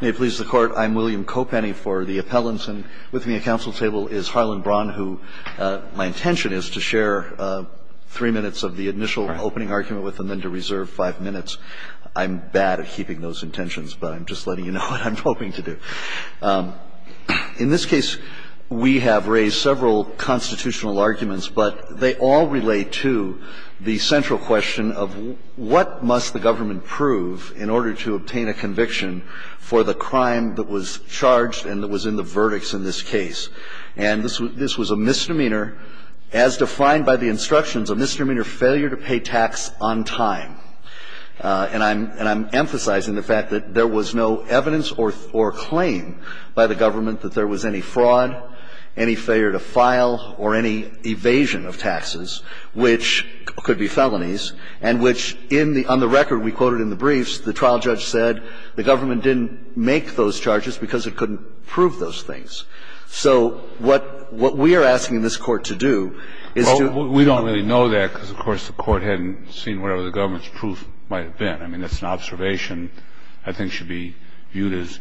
May it please the Court, I'm William Kopenny for the Appellants, and with me at counsel table is Harlan Braun, who my intention is to share three minutes of the initial opening argument with him, then to reserve five minutes. I'm bad at keeping those intentions, but I'm just letting you know what I'm hoping to do. In this case, we have raised several constitutional arguments, but they all relate to the central question of what must the government prove in order to obtain a conviction for the crime that was charged and that was in the verdicts in this case. And this was a misdemeanor, as defined by the instructions, a misdemeanor failure to pay tax on time. And I'm emphasizing the fact that there was no evidence or claim by the government that there was any fraud, any failure to file, or any evasion of taxes, which could be felonies, and which in the – on the record we quoted in the briefs, the trial judge said the government didn't make those charges because it couldn't prove those things. So what we are asking this Court to do is to – Well, we don't really know that because, of course, the Court hadn't seen whatever the government's proof might have been. I mean, that's an observation I think should be viewed as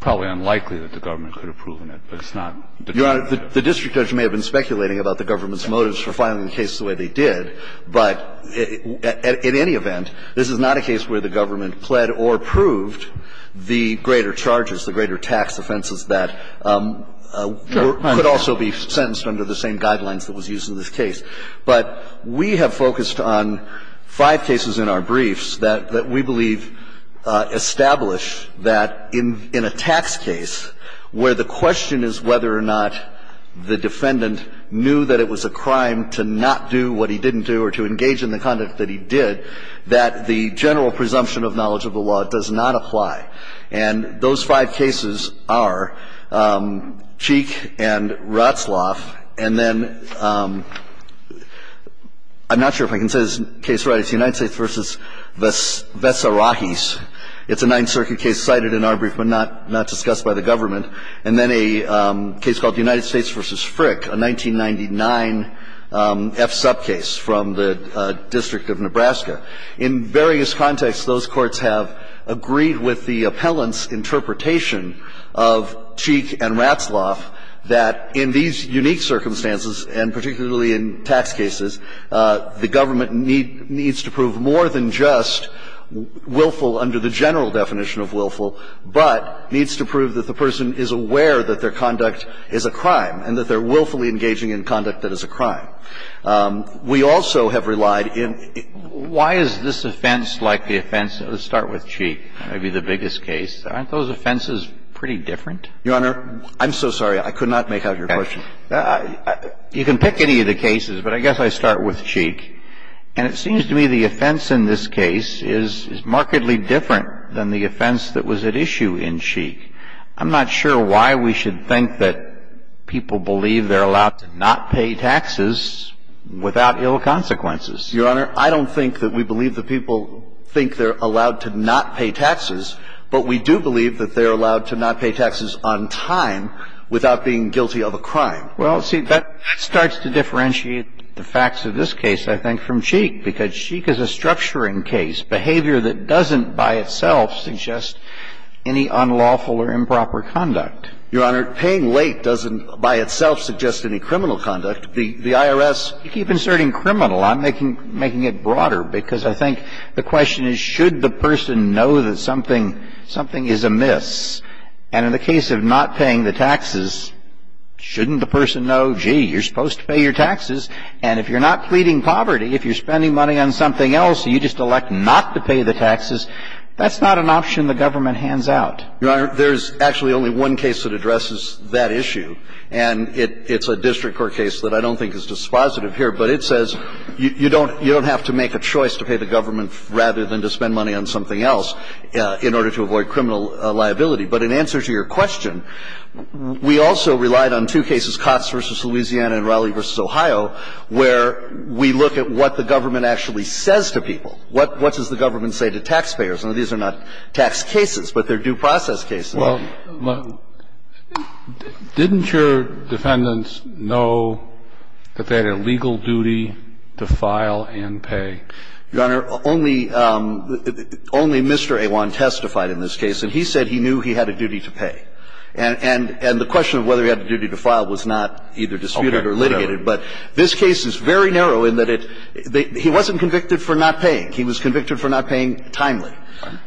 probably unlikely that the government could have proven it, but it's not determined by the judge. Your Honor, the district judge may have been speculating about the government's did, but in any event, this is not a case where the government pled or proved the greater charges, the greater tax offenses that could also be sentenced under the same guidelines that was used in this case. But we have focused on five cases in our briefs that we believe establish that in a tax case, where the question is whether or not the defendant knew that it was a crime to not do what he did, and he didn't do, or to engage in the conduct that he did, that the general presumption of knowledge of the law does not apply. And those five cases are Cheek and Ratzlaff, and then I'm not sure if I can say this case right. It's United States v. Vessarachis. It's a Ninth Circuit case cited in our brief but not discussed by the government. And then a case called United States v. Frick, a 1999 F-sub case from the District of Nebraska. In various contexts, those courts have agreed with the appellant's interpretation of Cheek and Ratzlaff that in these unique circumstances, and particularly in tax cases, the government needs to prove more than just willful under the general definition of willful, but needs to prove that the person is aware that their conduct is a crime and that they're willfully engaging in conduct that is a crime. We also have relied in the ---- Why is this offense like the offense ---- let's start with Cheek, maybe the biggest case. Aren't those offenses pretty different? Your Honor, I'm so sorry. I could not make out your question. You can pick any of the cases, but I guess I'll start with Cheek. And it seems to me the offense in this case is markedly different than the offense that was at issue in Cheek. I'm not sure why we should think that people believe they're allowed to not pay taxes without ill consequences. Your Honor, I don't think that we believe that people think they're allowed to not pay taxes, but we do believe that they're allowed to not pay taxes on time without being guilty of a crime. Well, see, that starts to differentiate the facts of this case, I think, from Cheek, because Cheek is a structuring case, behavior that doesn't by itself suggest any unlawful or improper conduct. Your Honor, paying late doesn't by itself suggest any criminal conduct. The IRS ---- You keep inserting criminal. I'm making it broader, because I think the question is, should the person know that something is amiss? And in the case of not paying the taxes, shouldn't the person know, gee, you're supposed to pay your taxes, and if you're not pleading poverty, if you're spending money on something else, you just elect not to pay the taxes, that's not an option the government hands out. Your Honor, there's actually only one case that addresses that issue, and it's a district court case that I don't think is dispositive here, but it says you don't have to make a choice to pay the government rather than to spend money on something else in order to avoid criminal liability. But in answer to your question, we also relied on two cases where we look at what the government actually says to people. What does the government say to taxpayers? Now, these are not tax cases, but they're due process cases. Kennedy. Well, didn't your defendants know that they had a legal duty to file and pay? Your Honor, only Mr. Awan testified in this case, and he said he knew he had a duty to pay. And the question of whether he had a duty to file was not either disputed or litigated. But this case is very narrow in that it – he wasn't convicted for not paying. He was convicted for not paying timely.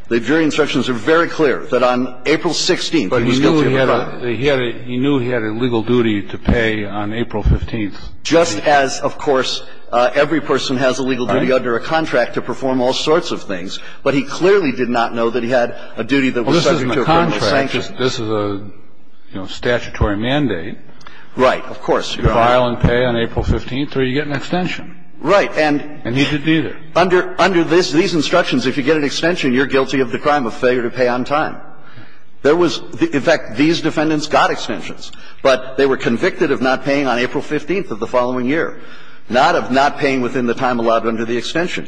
The jury instructions are very clear that on April 16th he was guilty of a crime. But he knew he had a – he knew he had a legal duty to pay on April 15th. Just as, of course, every person has a legal duty under a contract to perform all sorts of things, but he clearly did not know that he had a duty that was subject to a criminal sanction. Well, this isn't a contract. This is a statutory mandate. Right. Of course, Your Honor. You can't file and pay on April 15th or you get an extension. Right. And need to do that. Under – under this – these instructions, if you get an extension, you're guilty of the crime of failure to pay on time. There was – in fact, these defendants got extensions. But they were convicted of not paying on April 15th of the following year, not of not paying within the time allowed under the extension.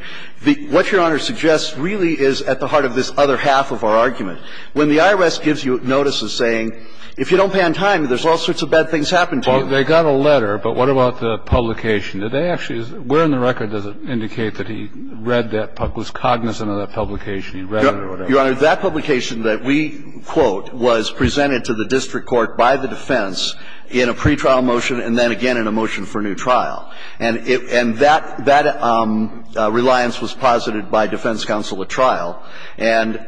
What Your Honor suggests really is at the heart of this other half of our argument. When the IRS gives you notices saying, if you don't pay on time, there's all sorts of bad things happen to you. They got a letter, but what about the publication? Did they actually – where in the record does it indicate that he read that – was cognizant of that publication? He read it or whatever. Your Honor, that publication that we quote was presented to the district court by the defense in a pretrial motion and then again in a motion for new trial. And it – and that – that reliance was posited by defense counsel at trial. And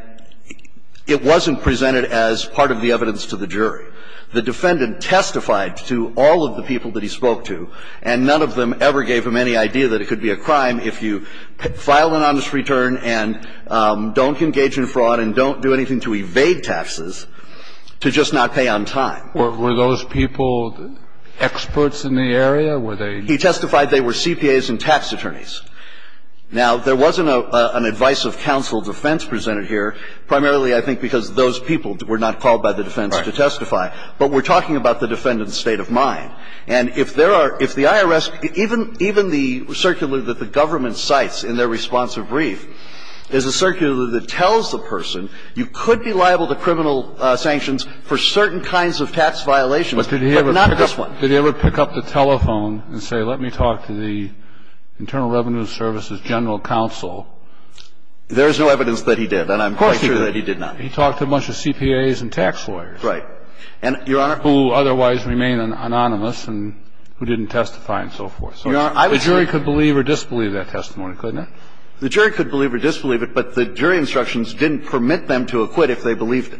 it wasn't presented as part of the evidence to the jury. The defendant testified to all of the people that he spoke to, and none of them ever gave him any idea that it could be a crime if you file an honest return and don't engage in fraud and don't do anything to evade taxes to just not pay on time. Were those people experts in the area? Were they – He testified they were CPAs and tax attorneys. Now, there wasn't an advice of counsel defense presented here, primarily, I think, because those people were not called by the defense to testify. But we're talking about the defendant's state of mind. And if there are – if the IRS – even the circular that the government cites in their response to a brief is a circular that tells the person you could be liable to criminal sanctions for certain kinds of tax violations, but not this one. But did he ever pick up the telephone and say, let me talk to the Internal Revenue Service's general counsel? There is no evidence that he did, and I'm quite sure that he did not. He talked to a bunch of CPAs and tax lawyers. Right. And, Your Honor – Who otherwise remain anonymous and who didn't testify and so forth. So the jury could believe or disbelieve that testimony, couldn't it? The jury could believe or disbelieve it, but the jury instructions didn't permit them to acquit if they believed it.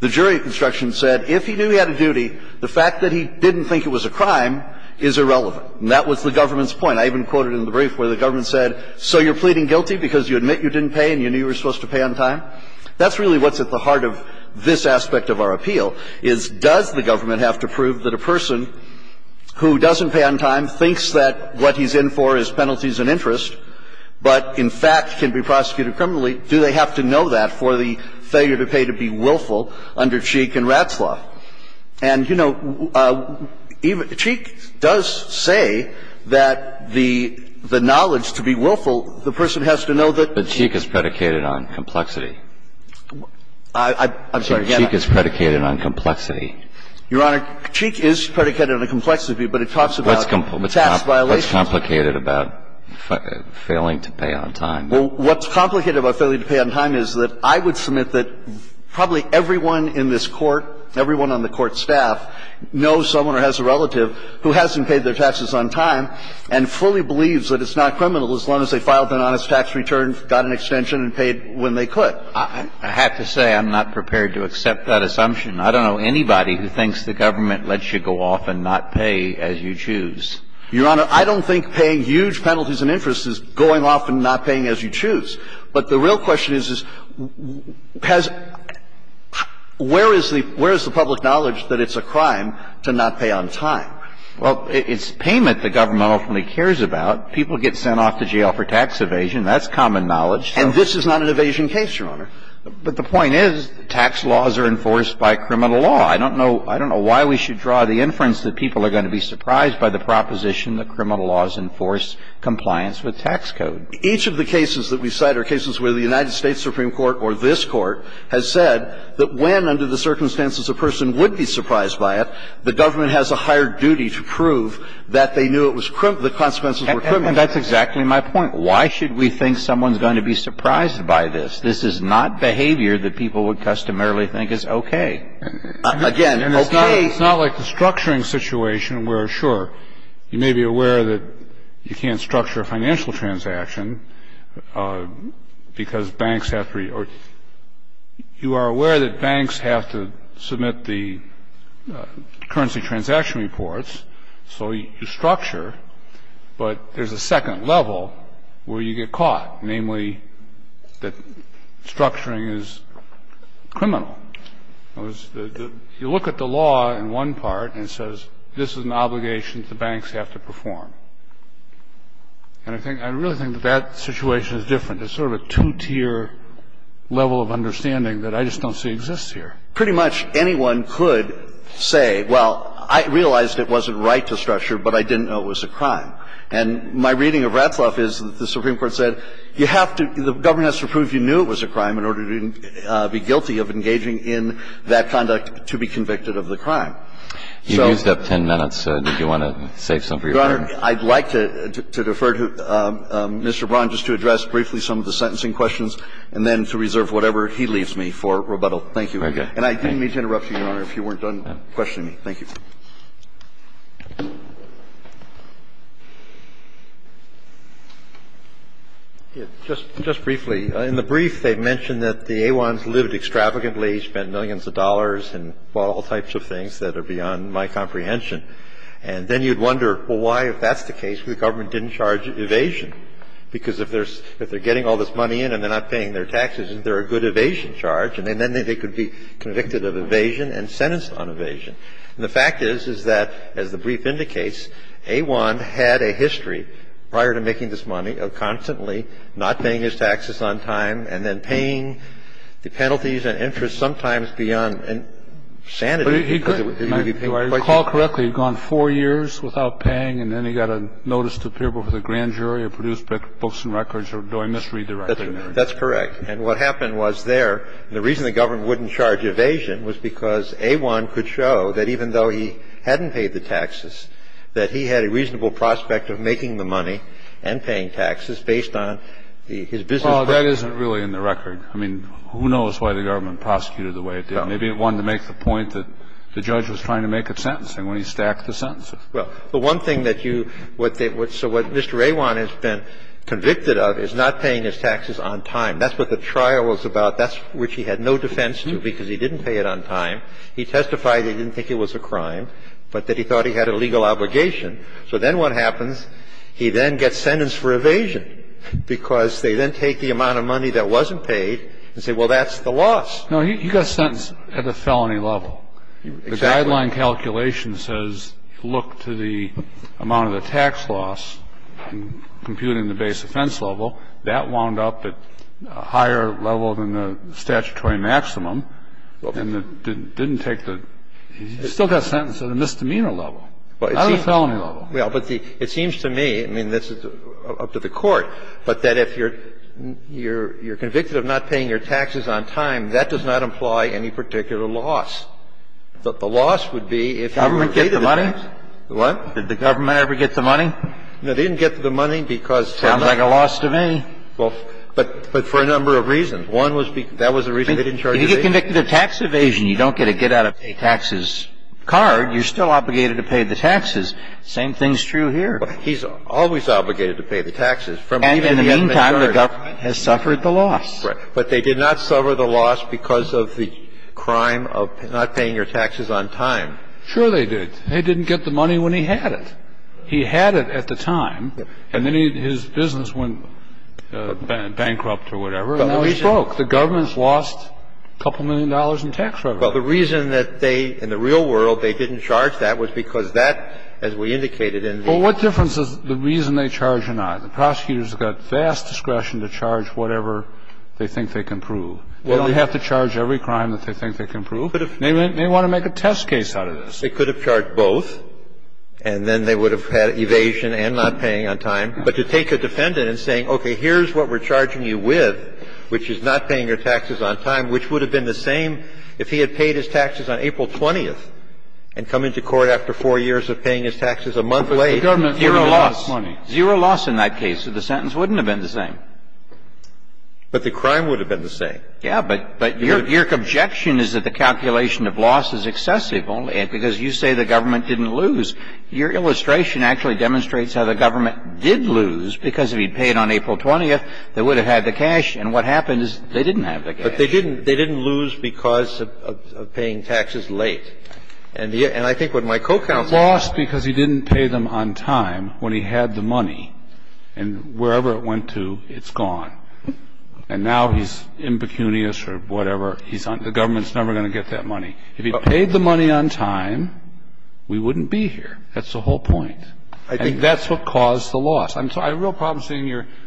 The jury instructions said if he knew he had a duty, the fact that he didn't think it was a crime is irrelevant. And that was the government's point. I even quoted in the brief where the government said, so you're pleading guilty because you admit you didn't pay and you knew you were supposed to pay on time? That's really what's at the heart of this aspect of our appeal, is does the government have to prove that a person who doesn't pay on time thinks that what he's in for is penalties and interest, but in fact can be prosecuted criminally, do they have to know that for the failure to pay to be willful under Cheek and Ratzlaff? And, you know, even – Cheek does say that the knowledge to be willful, the person has to know that he's – I'm sorry, go ahead. Cheek is predicated on complexity. Your Honor, Cheek is predicated on the complexity, but it talks about tax violations. What's complicated about failing to pay on time? Well, what's complicated about failing to pay on time is that I would submit that probably everyone in this Court, everyone on the Court staff, knows someone or has a relative who hasn't paid their taxes on time and fully believes that it's not criminal as long as they filed an honest tax return, got an extension, and paid when they could. I have to say I'm not prepared to accept that assumption. I don't know anybody who thinks the government lets you go off and not pay as you choose. Your Honor, I don't think paying huge penalties and interest is going off and not paying as you choose. But the real question is, where is the public knowledge that it's a crime to not pay on time? Well, it's payment the government ultimately cares about. People get sent off to jail for tax evasion. That's common knowledge. And this is not an evasion case, Your Honor. But the point is, tax laws are enforced by criminal law. I don't know why we should draw the inference that people are going to be surprised by the proposition that criminal laws enforce compliance with tax code. Each of the cases that we cite are cases where the United States Supreme Court or this Court has said that when, under the circumstances a person would be surprised by it, the government has a higher duty to prove that they knew it was criminal law, the consequences were criminal. And that's exactly my point. Why should we think someone's going to be surprised by this? This is not behavior that people would customarily think is okay. Again, okay is not like the structuring situation where, sure, you may be aware that you can't structure a financial transaction because banks have to be or you are aware that banks have to submit the currency transaction reports, so you structure. But there's a second level where you get caught, namely that structuring is criminal. You look at the law in one part and it says this is an obligation that the banks have to perform. And I really think that that situation is different. And it's sort of a two-tier level of understanding that I just don't see exists here. Pretty much anyone could say, well, I realized it wasn't right to structure, but I didn't know it was a crime. And my reading of Ratzlaff is that the Supreme Court said you have to – the government has to prove you knew it was a crime in order to be guilty of engaging in that conduct to be convicted of the crime. So – You used up 10 minutes. Did you want to save some for your time? I'd like to defer to Mr. Braun just to address briefly some of the sentencing questions and then to reserve whatever he leaves me for rebuttal. Thank you. Okay. And I didn't mean to interrupt you, Your Honor, if you weren't done questioning me. Thank you. Just briefly, in the brief they mentioned that the A1s lived extravagantly, spent millions of dollars and, well, all types of things that are beyond my comprehension. And then you'd wonder, well, why, if that's the case, the government didn't charge evasion, because if there's – if they're getting all this money in and they're not paying their taxes, isn't there a good evasion charge? And then they could be convicted of evasion and sentenced on evasion. And the fact is, is that, as the brief indicates, A1 had a history, prior to making this money, of constantly not paying his taxes on time and then paying the penalties and interest sometimes beyond sanity because it would be paid quite cheaply. So you're saying, well, he's gone four years without paying and then he got a notice to appear before the grand jury or produced books and records, or do I misread the record? That's correct. And what happened was there, the reason the government wouldn't charge evasion was because A1 could show that even though he hadn't paid the taxes, that he had a record of not paying his taxes on time. And that's what the trial was about, which he had no defense to, because he didn't pay it on time. He testified that he didn't think it was a crime, but that he thought he had a legal obligation. So then what happens, he then gets sentenced for evasion, because they then take the amount of money that wasn't paid and say, well, that's the loss. No, he got sentenced at the felony level. Exactly. The deadline calculation says look to the amount of the tax loss and compute in the base offense level. That wound up at a higher level than the statutory maximum and didn't take the – he still got sentenced at a misdemeanor level, not at a felony level. Well, but the – it seems to me, I mean, this is up to the Court, but that if you're convicted of not paying your taxes on time, that does not imply any particular loss. The loss would be if you were paid the tax. Government get the money? What? Did the government ever get the money? No, they didn't get the money because they're not – Sounds like a loss to me. Well, but for a number of reasons. One was because – that was the reason they didn't charge evasion. If you get convicted of tax evasion, you don't get a get out of pay taxes card. You're still obligated to pay the taxes. Same thing's true here. He's always obligated to pay the taxes. And in the meantime, the government has suffered the loss. Right. But they did not suffer the loss because of the crime of not paying your taxes on time. Sure they did. They didn't get the money when he had it. He had it at the time, and then his business went bankrupt or whatever, and now he's broke. The government's lost a couple million dollars in tax revenue. Well, the reason that they – in the real world, they didn't charge that was because that, as we indicated in the – Well, what difference does the reason they charge or not? The prosecutors have got vast discretion to charge whatever they think they can prove. They don't have to charge every crime that they think they can prove. They may want to make a test case out of this. They could have charged both, and then they would have had evasion and not paying on time. But to take a defendant and say, okay, here's what we're charging you with, which is not paying your taxes on time, which would have been the same if he had paid his taxes on April 20th and come into court after four years of paying his taxes a month late. But the government would have lost money. Zero loss in that case. So the sentence wouldn't have been the same. But the crime would have been the same. Yeah. But your objection is that the calculation of loss is excessive only because you say the government didn't lose. Your illustration actually demonstrates how the government did lose, because if he had paid on April 20th, they would have had the cash. And what happened is they didn't have the cash. But they didn't lose because of paying taxes late. And I think what my co-counsel – I think what my co-counsel is saying is that if he had lost because he didn't pay them on time when he had the money, and wherever it went to, it's gone, and now he's impecunious or whatever, he's on – the government's never going to get that money. If he paid the money on time, we wouldn't be here. That's the whole point. I think that's what caused the loss. I'm sorry. I have a real problem seeing your –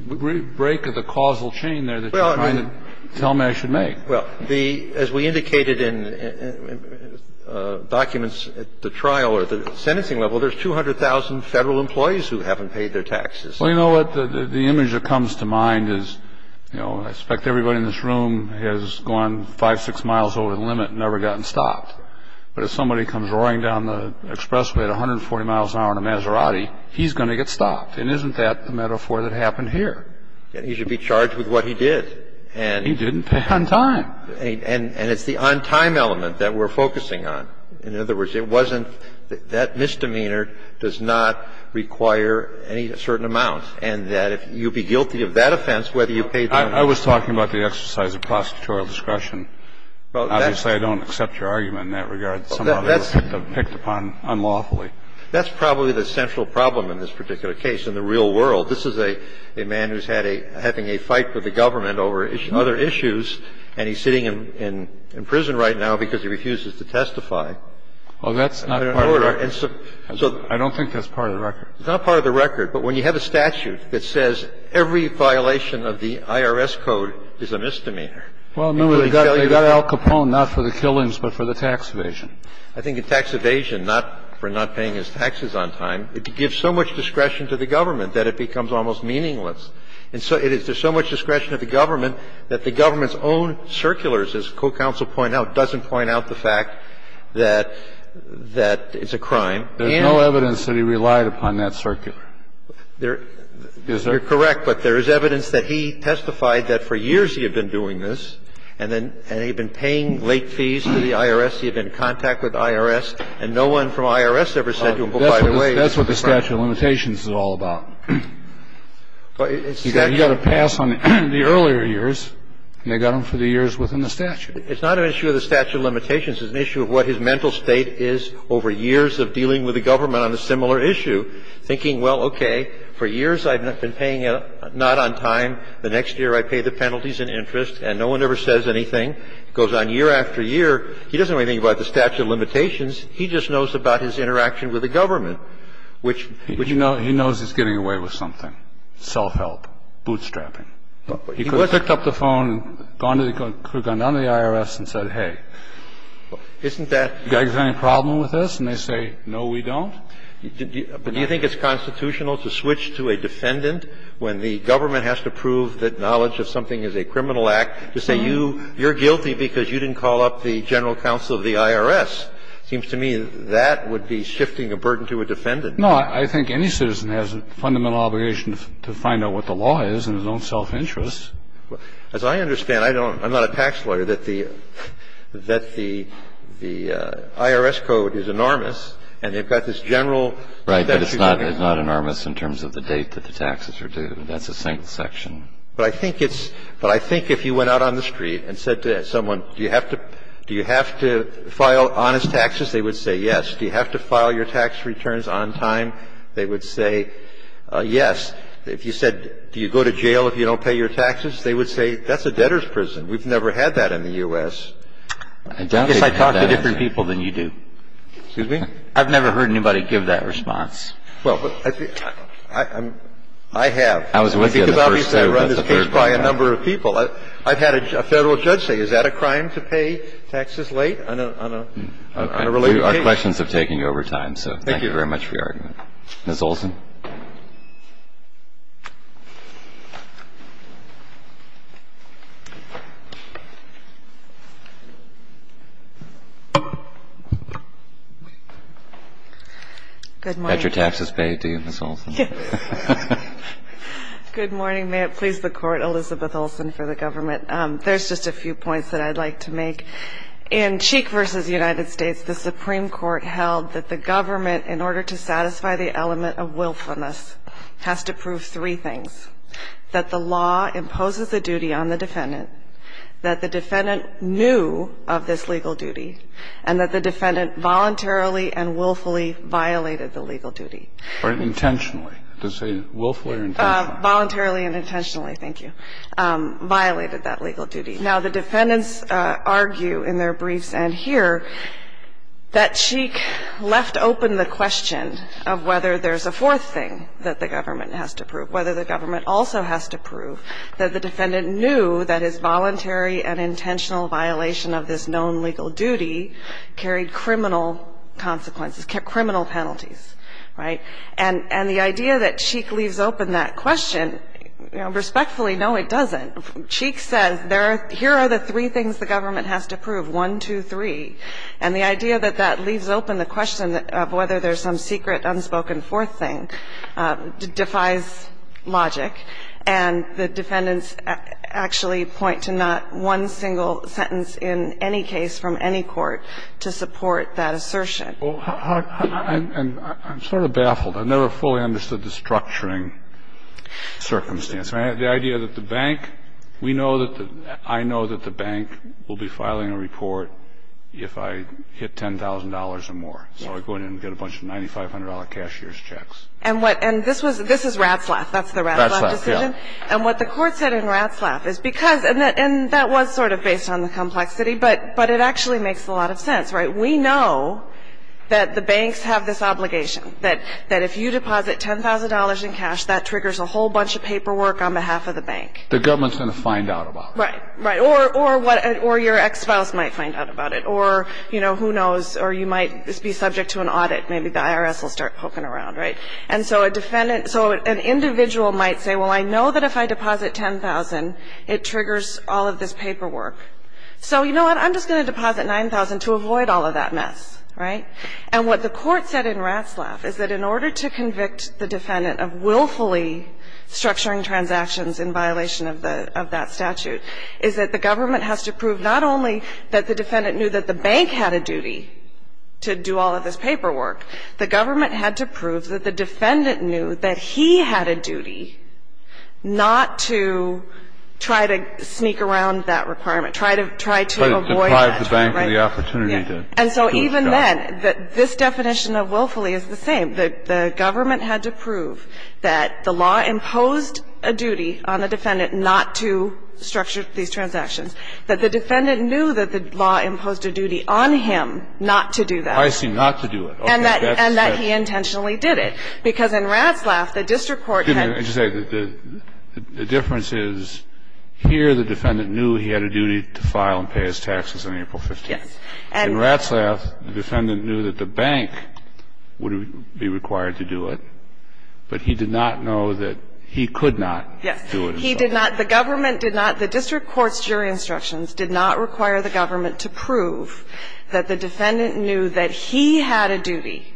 the break of the causal chain there that you're making. Well, the – as we indicated in documents at the trial or the sentencing level, there's 200,000 Federal employees who haven't paid their taxes. Well, you know what? The image that comes to mind is, you know, I expect everybody in this room has gone 5, 6 miles over the limit and never gotten stopped. But if somebody comes roaring down the expressway at 140 miles an hour in a Maserati, he's going to get stopped. And isn't that the metaphor that happened here? He should be charged with what he did. He didn't pay on time. And it's the on-time element that we're focusing on. In other words, it wasn't – that misdemeanor does not require any certain amount. And that if you'd be guilty of that offense, whether you paid the money or not. I was talking about the exercise of prosecutorial discretion. Obviously, I don't accept your argument in that regard. Somebody was picked upon unlawfully. That's probably the central problem in this particular case in the real world. This is a man who's had a – having a fight with the government over other issues, and he's sitting in prison right now because he refuses to testify. Well, that's not part of the record. I don't think that's part of the record. It's not part of the record. But when you have a statute that says every violation of the IRS code is a misdemeanor. Well, remember, they got Al Capone not for the killings, but for the tax evasion. I think a tax evasion, not for not paying his taxes on time, it gives so much discretion to the government that it becomes almost meaningless. And so it is. There's so much discretion to the government that the government's own circulars, as co-counsel pointed out, doesn't point out the fact that it's a crime. There's no evidence that he relied upon that circular. Is there? You're correct, but there is evidence that he testified that for years he had been doing this, and then he had been paying late fees to the IRS. He had been in contact with the IRS, and no one from IRS ever said to him, by the way, it's a crime. That's what the statute of limitations is all about. You got to pass on the earlier years, and they got him for the years within the statute. It's not an issue of the statute of limitations. It's an issue of what his mental state is over years of dealing with the government on a similar issue, thinking, well, okay, for years I've been paying not on time. The next year I pay the penalties in interest, and no one ever says anything. It goes on year after year. He doesn't really think about the statute of limitations. He just knows about his interaction with the government. He knows he's getting away with something. Self-help. Bootstrapping. He could have picked up the phone, could have gone down to the IRS and said, hey, isn't that you guys have any problem with this? And they say, no, we don't. Do you think it's constitutional to switch to a defendant when the government has to prove that knowledge of something is a criminal act to say you're guilty because you didn't call up the general counsel of the IRS? It seems to me that would be shifting a burden to a defendant. No. I think any citizen has a fundamental obligation to find out what the law is in his own self-interest. As I understand, I don't know, I'm not a tax lawyer, that the IRS code is enormous and they've got this general. Right. But it's not enormous in terms of the date that the taxes are due. That's the same section. But I think it's – but I think if you went out on the street and said to someone, do you have to file honest taxes, they would say yes. Do you have to file your tax returns on time, they would say yes. If you said, do you go to jail if you don't pay your taxes, they would say, that's a debtor's prison. We've never had that in the U.S. I guess I talk to different people than you do. Excuse me? I've never heard anybody give that response. Well, I have. I was with you on the first two, but the third one. I've had a federal judge say, is that a crime? Is that a crime to pay taxes late on a related case? Okay. We are questions of taking over time, so thank you very much for your argument. Ms. Olson. Good morning. Got your taxes paid to you, Ms. Olson. Good morning. May it please the Court, Elizabeth Olson for the government. There's just a few points that I'd like to make. In Cheek v. United States, the Supreme Court held that the government, in order to satisfy the element of willfulness, has to prove three things, that the law imposes a duty on the defendant, that the defendant knew of this legal duty, and that the defendant voluntarily and willfully violated the legal duty. Or intentionally. Does it say willfully or intentionally? Voluntarily and intentionally. Thank you. And that the defendant voluntarily and intentionally violated that legal duty. Now, the defendants argue in their briefs and here that Cheek left open the question of whether there's a fourth thing that the government has to prove, whether the government also has to prove that the defendant knew that his voluntary and intentional violation of this known legal duty carried criminal consequences, criminal penalties. Right? And the idea that Cheek leaves open that question, respectfully, no, it doesn't. Cheek says here are the three things the government has to prove. One, two, three. And the idea that that leaves open the question of whether there's some secret unspoken fourth thing defies logic, and the defendants actually point to not one single sentence in any case from any court to support that assertion. And I'm sort of baffled. I never fully understood the structuring circumstance. The idea that the bank, we know that the – I know that the bank will be filing a report if I hit $10,000 or more. So I go in and get a bunch of $9,500 cashier's checks. And what – and this was – this is Ratzlaff. That's the Ratzlaff decision. Ratzlaff, yeah. And what the Court said in Ratzlaff is because – and that was sort of based on the complexity, but it actually makes a lot of sense. Right? We know that the banks have this obligation, that if you deposit $10,000 in cash, that triggers a whole bunch of paperwork on behalf of the bank. The government's going to find out about it. Right. Right. Or what – or your ex-spouse might find out about it. Or, you know, who knows? Or you might be subject to an audit. Maybe the IRS will start poking around. Right? And so a defendant – so an individual might say, well, I know that if I deposit $10,000, it triggers all of this paperwork. So you know what? I'm just going to deposit $9,000 to avoid all of that mess. Right? And what the Court said in Ratzlaff is that in order to convict the defendant of willfully structuring transactions in violation of the – of that statute is that the government has to prove not only that the defendant knew that the bank had a duty to do all of this paperwork, the government had to prove that the defendant knew that he had a duty not to try to sneak around that requirement, try to – try to avoid that. Try to deprive the bank of the opportunity to do its job. And so even then, this definition of willfully is the same. The government had to prove that the law imposed a duty on the defendant not to structure these transactions, that the defendant knew that the law imposed a duty on him not to do that. I see. Not to do it. Okay. And that he intentionally did it. Because in Ratzlaff, the district court had – Excuse me. The difference is here the defendant knew he had a duty to file and pay his taxes on April 15th. Yes. In Ratzlaff, the defendant knew that the bank would be required to do it, but he did not know that he could not do it. Yes. He did not – the government did not – the district court's jury instructions did not require the government to prove that the defendant knew that he had a duty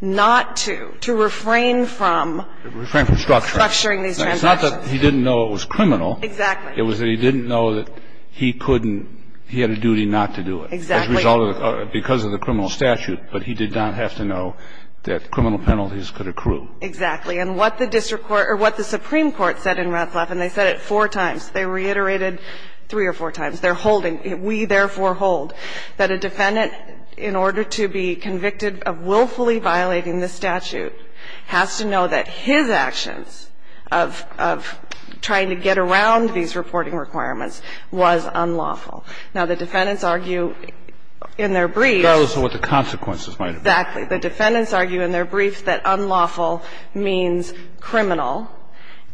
not to, to refrain from – Refrain from structuring. Structuring these transactions. It's not that he didn't know it was criminal. Exactly. It was that he didn't know that he couldn't – he had a duty not to do it. Exactly. As a result of – because of the criminal statute. But he did not have to know that criminal penalties could accrue. Exactly. And what the district court – or what the Supreme Court said in Ratzlaff, and they said it four times. They reiterated three or four times. They're holding – we therefore hold that a defendant, in order to be convicted of willfully violating the statute, has to know that his actions of trying to get around these reporting requirements was unlawful. Now, the defendants argue in their briefs – That was what the consequences might have been. Exactly. The defendants argue in their briefs that unlawful means criminal,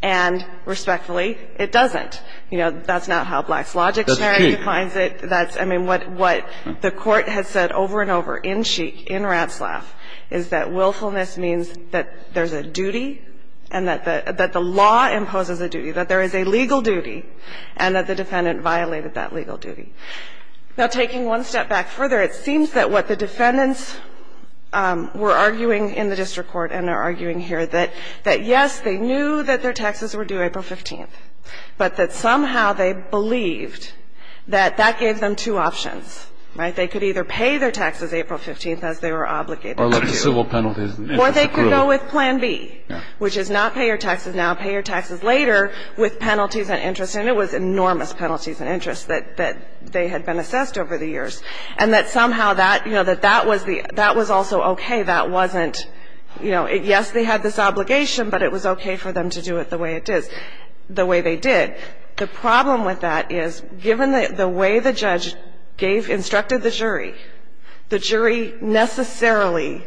and respectfully, it doesn't. You know, that's not how Black's Logic scenario defines it. I mean, what the Court has said over and over in Sheik, in Ratzlaff, is that willfulness means that there's a duty and that the law imposes a duty, that there is a legal duty, and that the defendant violated that legal duty. Now, taking one step back further, it seems that what the defendants were arguing in the district court and are arguing here, that yes, they knew that their taxes were due April 15th, but that somehow they believed that that gave them two options. Right? They could either pay their taxes April 15th, as they were obligated to. Or lift the civil penalties. Or they could go with Plan B, which is not pay your taxes now, pay your taxes later with penalties and interest. And it was enormous penalties and interest that they had been assessed over the years. And that somehow that, you know, that that was the – that was also okay. That wasn't, you know, yes, they had this obligation, but it was okay for them to do it the way it is, the way they did. The problem with that is, given the way the judge gave – instructed the jury, the jury necessarily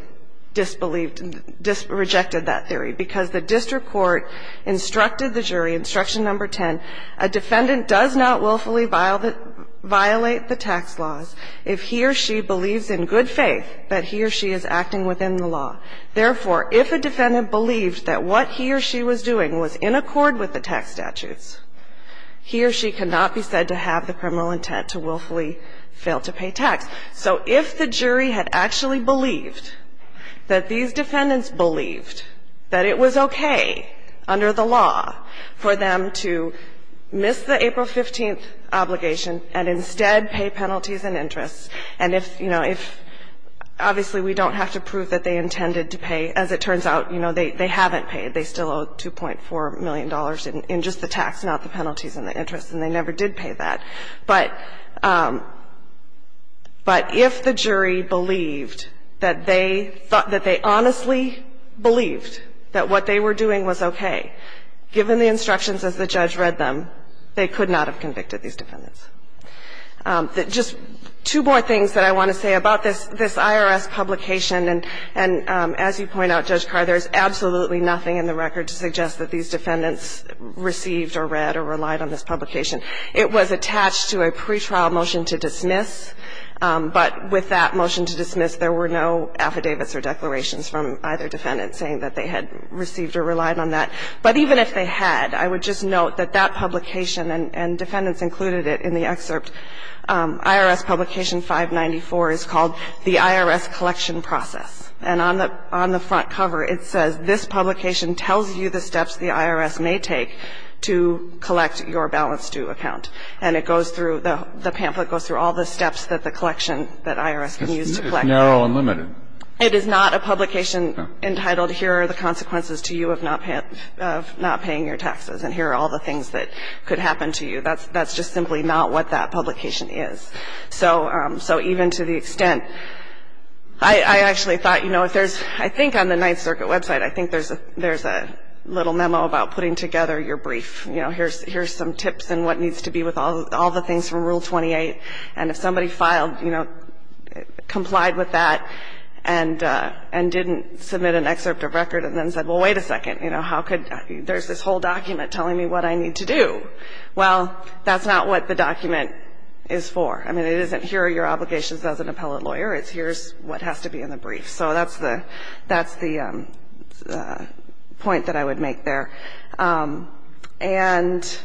disbelieved and rejected that theory, because the district court instructed the jury, Instruction No. 10, a defendant does not willfully violate the tax laws if he or she believes in good faith that he or she is acting within the law. Therefore, if a defendant believed that what he or she was doing was in accord with the tax statutes, he or she cannot be said to have the criminal intent to willfully fail to pay tax. So if the jury had actually believed that these defendants believed that it was okay under the law for them to miss the April 15th obligation and instead pay penalties and interest, and if, you know, if – obviously, we don't have to prove that they intended to pay. As it turns out, you know, they haven't paid. They still owe $2.4 million in just the tax, not the penalties and the interest, and they never did pay that. But if the jury believed that they thought that they honestly believed that what they were doing was okay, given the instructions as the judge read them, they could not have convicted these defendants. Just two more things that I want to say about this IRS publication. And as you point out, Judge Carr, there is absolutely nothing in the record to suggest that these defendants received or read or relied on this publication. It was attached to a pretrial motion to dismiss. But with that motion to dismiss, there were no affidavits or declarations from either defendant saying that they had received or relied on that. But even if they had, I would just note that that publication, and defendants included it in the excerpt, IRS publication 594 is called the IRS collection process. And on the front cover, it says, this publication tells you the steps the IRS may take to collect your balance due account. And it goes through, the pamphlet goes through all the steps that the collection that IRS can use to collect. It's narrow and limited. It is not a publication entitled, here are the consequences to you of not paying your taxes, and here are all the things that could happen to you. That's just simply not what that publication is. So even to the extent, I actually thought, you know, if there's, I think on the Ninth Circuit website, I think there's a little memo about putting together your brief. You know, here's some tips and what needs to be with all the things from Rule 28. And if somebody filed, you know, complied with that and didn't submit an excerpt of record and then said, well, wait a second, you know, how could, there's this whole thing of, well, that's not what the document is for. I mean, it isn't here are your obligations as an appellate lawyer. It's here's what has to be in the brief. So that's the, that's the point that I would make there. And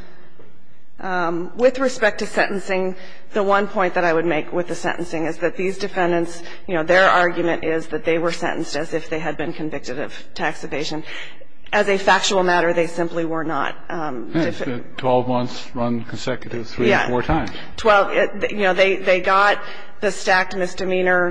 with respect to sentencing, the one point that I would make with the sentencing is that these defendants, you know, their argument is that they were sentenced as if they had been convicted of tax evasion. As a factual matter, they simply were not. 12 months run consecutive three or four times. Well, you know, they got the stacked misdemeanor,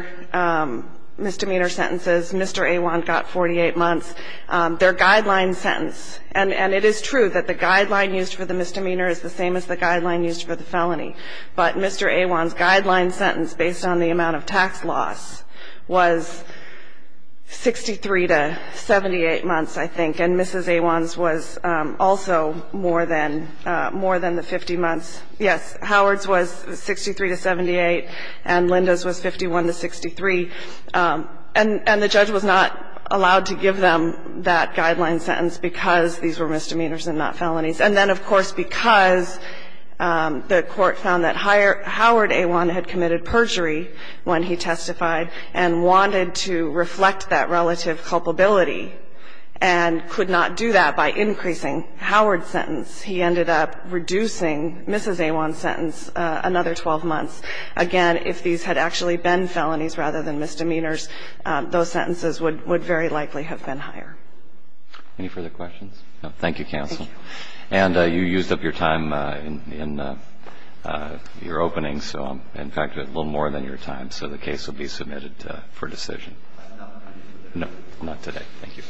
misdemeanor sentences. Mr. Awan got 48 months. Their guideline sentence, and it is true that the guideline used for the misdemeanor is the same as the guideline used for the felony. But Mr. Awan's guideline sentence based on the amount of tax loss was 63 to 78 months, I think. And Mrs. Awan's was also more than, more than the 50 months. Yes, Howard's was 63 to 78, and Linda's was 51 to 63. And the judge was not allowed to give them that guideline sentence because these were misdemeanors and not felonies. And then, of course, because the Court found that Howard Awan had committed perjury when he testified and wanted to reflect that relative culpability and could not do that by increasing Howard's sentence, he ended up reducing Mrs. Awan's sentence another 12 months. Again, if these had actually been felonies rather than misdemeanors, those sentences would very likely have been higher. Any further questions? No. Thank you, counsel. Thank you. And you used up your time in your opening, so in fact a little more than your time, so the case will be submitted for decision. No, not today. Thank you.